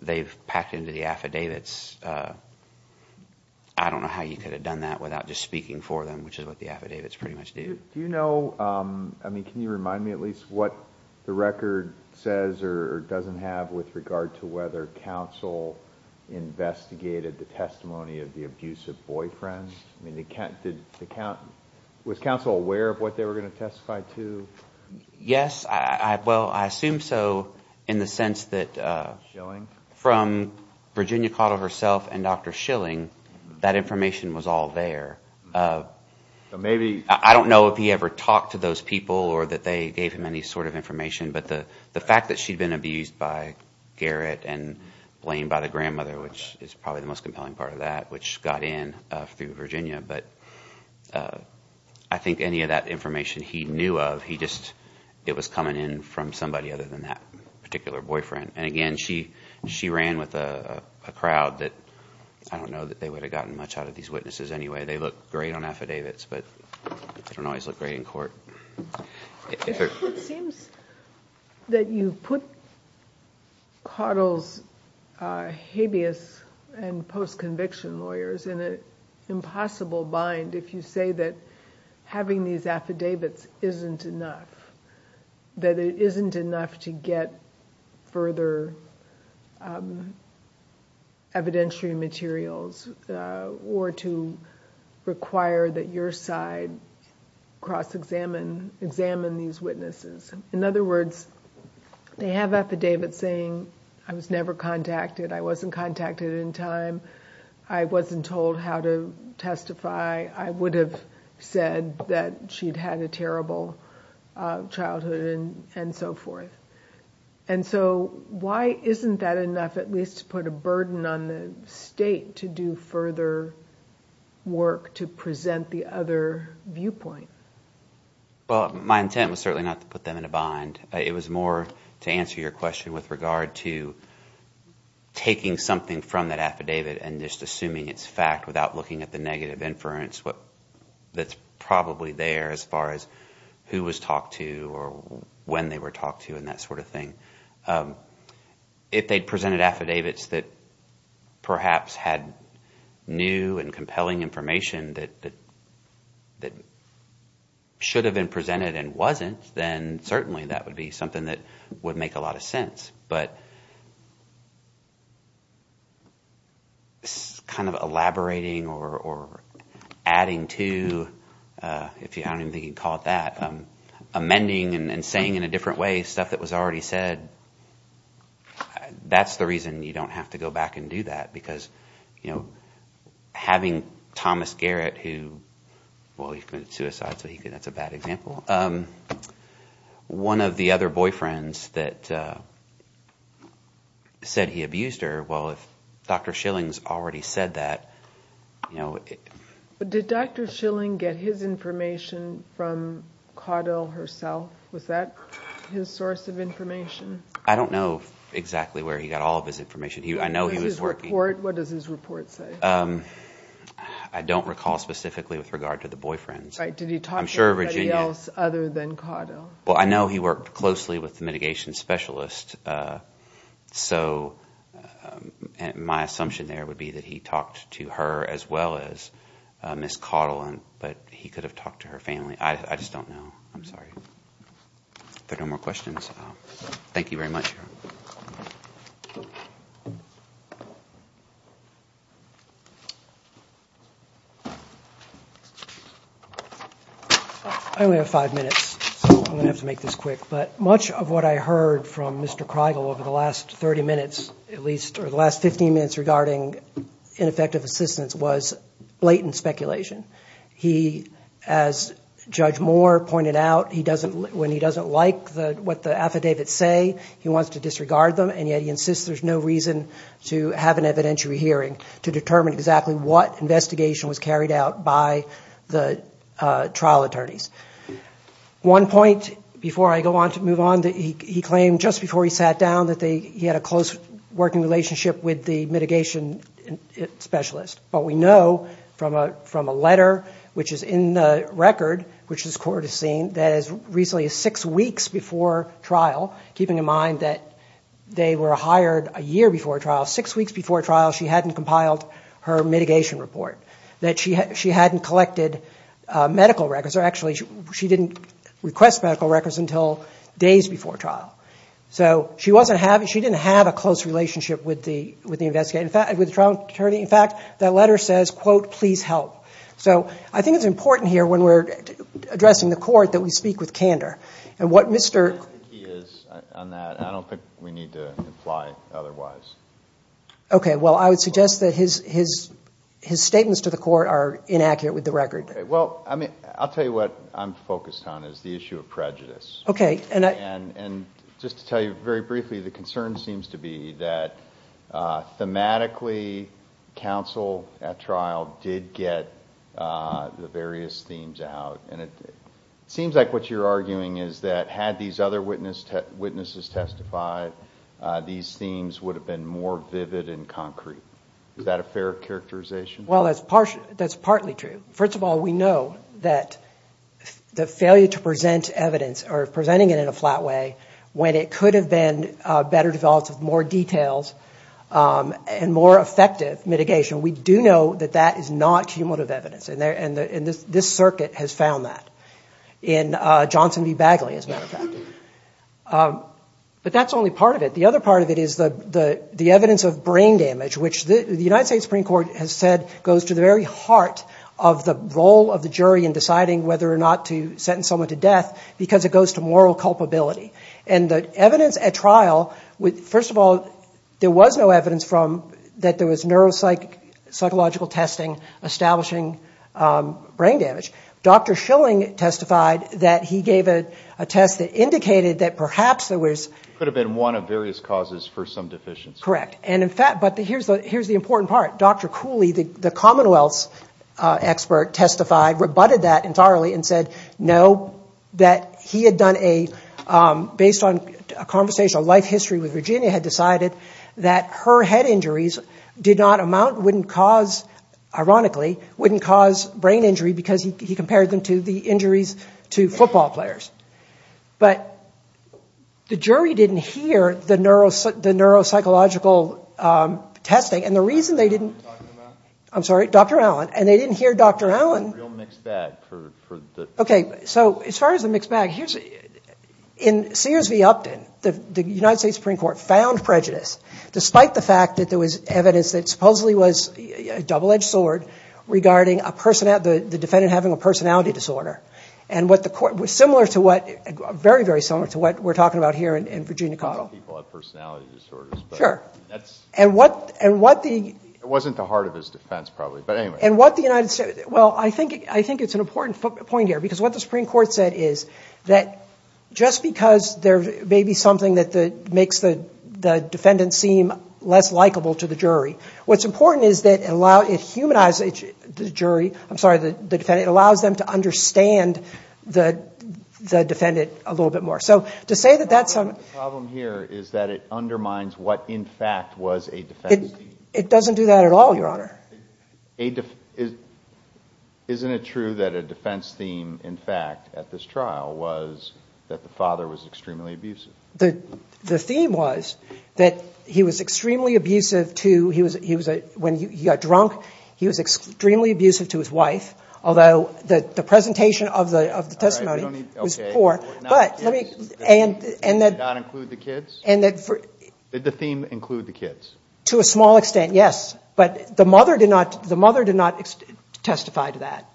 they've packed into the affidavits. I Don't know how you could have done that without just speaking for them, which is what the affidavits pretty much do Do you know I mean, can you remind me at least what the record says or doesn't have with regard to whether counsel? Investigated the testimony of the abusive boyfriend I mean they can't did the count was counsel aware of what they were going to testify to Yes, I well, I assume so in the sense that From Virginia caught of herself and dr. Schilling that information was all there Maybe I don't know if he ever talked to those people or that they gave him any sort of information but the the fact that she'd been abused by Garrett and blamed by the grandmother, which is probably the most compelling part of that which got in through, Virginia, but I Think any of that information he knew of he just it was coming in from somebody other than that particular boyfriend and again she she ran with a Crowd that I don't know that they would have gotten much out of these witnesses. Anyway, they look great on affidavits, but Don't always look great in court That you put Coddles Habeas and post-conviction lawyers in an impossible bind if you say that Having these affidavits isn't enough That it isn't enough to get further Evidentiary materials or to require that your side cross examine examine these witnesses in other words They have affidavits saying I was never contacted I wasn't contacted in time. I wasn't told how to Testify I would have said that she'd had a terrible childhood and and so forth and So why isn't that enough at least to put a burden on the state to do further? Work to present the other viewpoint Well, my intent was certainly not to put them in a bind it was more to answer your question with regard to Taking something from that affidavit and just assuming it's fact without looking at the negative inference What that's probably there as far as who was talked to or when they were talked to in that sort of thing if they'd presented affidavits that perhaps had new and compelling information that That should have been presented and wasn't then certainly that would be something that would make a lot of sense but Kind of elaborating or adding to If you haven't even caught that amending and saying in a different way stuff that was already said That's the reason you don't have to go back and do that because you know Having Thomas Garrett who well, he committed suicide, so he could that's a bad example One of the other boyfriends that Said he abused her. Well if dr. Schilling's already said that You know Did dr. Schilling get his information from Caudill herself? Was that his source of information? I don't know exactly where he got all of his information. He I know he was working. What does his report say? I don't recall specifically with regard to the boyfriends. I'm sure Well, I know he worked closely with the mitigation specialist so My assumption there would be that he talked to her as well as Miss Caudill and but he could have talked to her family. I just don't know. I'm sorry There no more questions. Thank you very much I Only have five minutes I'm gonna have to make this quick but much of what I heard from mr Kreigel over the last 30 minutes at least or the last 15 minutes regarding ineffective assistance was blatant speculation he as Judge Moore pointed out. He doesn't when he doesn't like the what the affidavits say he wants to disregard them and yet he insists there's no reason to have an evidentiary hearing to determine exactly what investigation was carried out by the trial attorneys One point before I go on to move on that he claimed just before he sat down that they he had a close working relationship with the mitigation Specialist, but we know from a from a letter which is in the record Which is court has seen that as recently as six weeks before trial keeping in mind that They were hired a year before trial six weeks before trial She hadn't compiled her mitigation report that she had she hadn't collected Medical records are actually she didn't request medical records until days before trial So she wasn't having she didn't have a close relationship with the with the investigator In fact with the trial attorney, in fact, that letter says quote, please help. So I think it's important here when we're Addressing the court that we speak with candor and what mr We need to apply otherwise Okay. Well, I would suggest that his his his statements to the court are inaccurate with the record Well, I mean, I'll tell you what I'm focused on is the issue of prejudice okay, and I and and just to tell you very briefly the concern seems to be that thematically counsel at trial did get the various themes out and it These themes would have been more vivid and concrete. Is that a fair characterization? Well, that's partially that's partly true first of all, we know that The failure to present evidence or presenting it in a flat way when it could have been better developed with more details And more effective mitigation. We do know that that is not cumulative evidence in there and in this this circuit has found that in Johnson v Bagley as matter of fact But that's only part of it the other part of it is the the the evidence of brain damage which the United States Supreme Court has said goes to the very heart of the role of the jury in deciding whether or not to sentence someone to death because it goes to moral culpability and The evidence at trial with first of all, there was no evidence from that. There was neuropsych psychological testing establishing Brain damage, dr Schilling testified that he gave a test that indicated that perhaps there was could have been one of various causes for some Deficiency, correct. And in fact, but the here's the here's the important part. Dr. Cooley the the Commonwealth's expert testified rebutted that entirely and said no that he had done a Based on a conversation a life history with Virginia had decided that her head injuries did not amount wouldn't cause Ironically wouldn't cause brain injury because he compared them to the injuries to football players but The jury didn't hear the neuros the neuropsychological Testing and the reason they didn't I'm sorry. Dr. Allen and they didn't hear. Dr. Allen Okay, so as far as the mixed bag here's In Sears v Upton the the United States Supreme Court found prejudice despite the fact that there was evidence that supposedly was double-edged sword Regarding a person at the defendant having a personality disorder and what the court was similar to what? Very very similar to what we're talking about here in Virginia Cottle Sure, and what and what the it wasn't the heart of his defense probably but anyway and what the United State well I think I think it's an important point here because what the Supreme Court said is that Just because there may be something that the makes the the defendant seem less likable to the jury What's important? Is that allow it humanized the jury? I'm sorry that the defendant allows them to understand the Defendant a little bit more so to say that that's some problem here Is that it undermines what in fact was a defense? It doesn't do that at all. Your honor a def is Isn't it true that a defense theme in fact at this trial was that the father was extremely abusive? The the theme was that he was extremely abusive to he was he was a when you got drunk He was extremely abusive to his wife. Although the the presentation of the of the testimony was poor But let me and and that not include the kids and that for the theme include the kids to a small extent Yes, but the mother did not the mother did not testify to that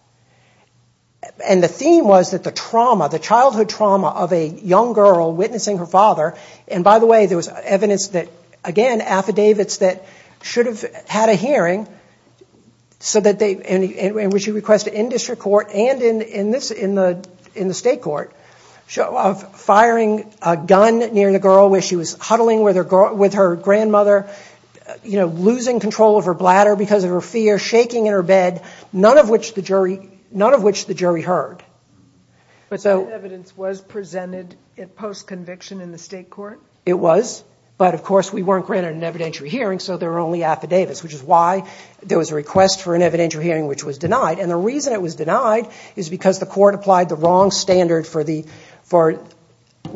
And the theme was that the trauma the childhood trauma of a young girl witnessing her father and by the way There was evidence that again affidavits that should have had a hearing So that they and which you request an in-district court and in in this in the in the state court Show of firing a gun near the girl where she was huddling with her girl with her grandmother You know losing control of her bladder because of her fear shaking in her bed None of which the jury none of which the jury heard But so evidence was presented it post conviction in the state court It was but of course we weren't granted an evidentiary hearing so there were only affidavits Which is why there was a request for an evidentiary hearing which was denied and the reason it was denied is because the court applied the wrong standard for the for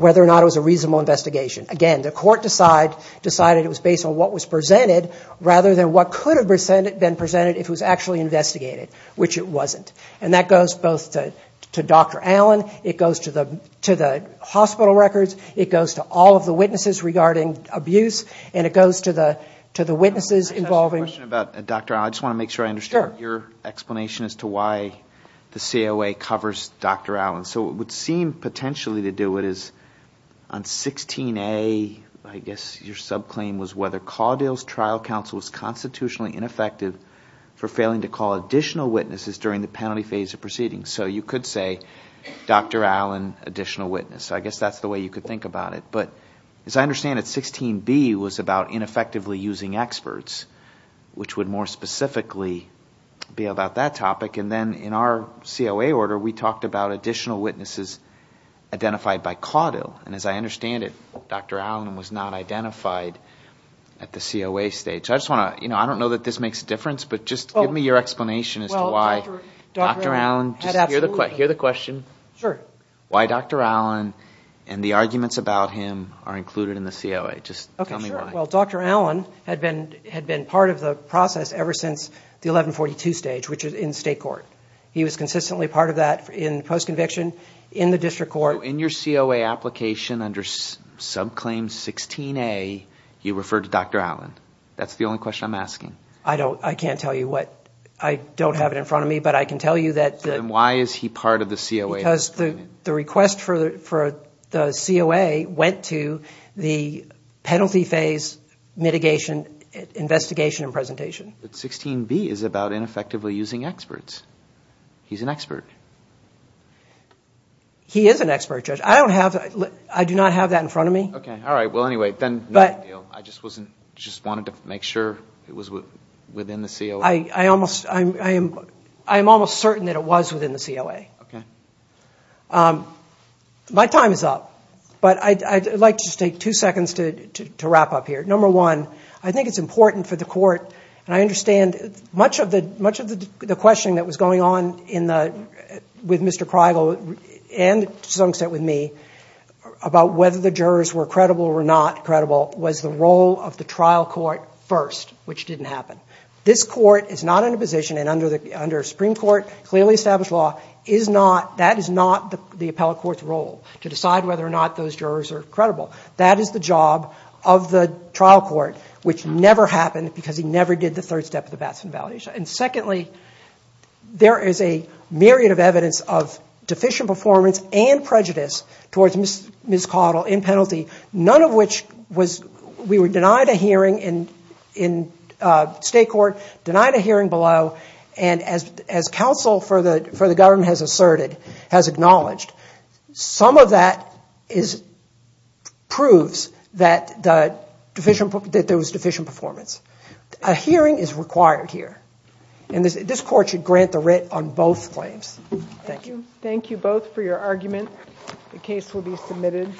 Whether or not it was a reasonable investigation again The court decide decided it was based on what was presented rather than what could have presented been presented if it was actually investigated Which it wasn't and that goes both to to dr. Allen it goes to the to the hospital records It goes to all of the witnesses regarding abuse and it goes to the to the witnesses involving about dr I just want to make sure I understand your explanation as to why the COA covers dr. Allen so it would seem potentially to do it is on 16 a I guess your subclaim was whether Caudill's trial counsel was constitutionally ineffective For failing to call additional witnesses during the penalty phase of proceedings so you could say Dr. Allen additional witness, so I guess that's the way you could think about it But as I understand it 16 B was about ineffectively using experts Which would more specifically? Be about that topic and then in our COA order we talked about additional witnesses Identified by Caudill and as I understand it, dr. Allen was not identified at the COA stage I just want to you know, I don't know that this makes a difference, but just give me your explanation as to why Dr. Allen just hear the question sure why dr. Allen and the arguments about him are included in the COA Just okay. Well, dr Allen had been had been part of the process ever since the 1142 stage which is in state court He was consistently part of that in post-conviction in the district court in your COA application under Subclaim 16 a he referred to dr. Allen. That's the only question I'm asking I don't I can't tell you what I don't have it in front of me But I can tell you that why is he part of the COA because the the request for the COA went to the penalty phase mitigation Investigation and presentation but 16b is about ineffectively using experts. He's an expert He is an expert judge I don't have I do not have that in front of me, okay All right. Well, anyway, then but I just wasn't just wanted to make sure it was within the seal I I almost I am I am almost certain that it was within the COA. Okay My time is up, but I'd like to just take two seconds to wrap up here number one I think it's important for the court and I understand much of the much of the questioning that was going on in the With mr. Cry go and sunset with me About whether the jurors were credible or not credible was the role of the trial court first, which didn't happen This court is not in a position and under the under Supreme Court clearly established law is not that is not the the appellate Court's role to decide whether or not those jurors are credible That is the job of the trial court, which never happened because he never did the third step of the Batson validation. And secondly There is a myriad of evidence of deficient performance and prejudice towards miss miss coddle in penalty none of which was we were denied a hearing in in State court denied a hearing below and as as counsel for the for the government has asserted has acknowledged some of that is Proves that the deficient that there was deficient performance a Hearing is required here and this court should grant the writ on both claims Thank you. Thank you both for your argument. The case will be submitted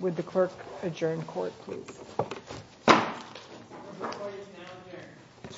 with the clerk adjourned court You You You You You You You You You You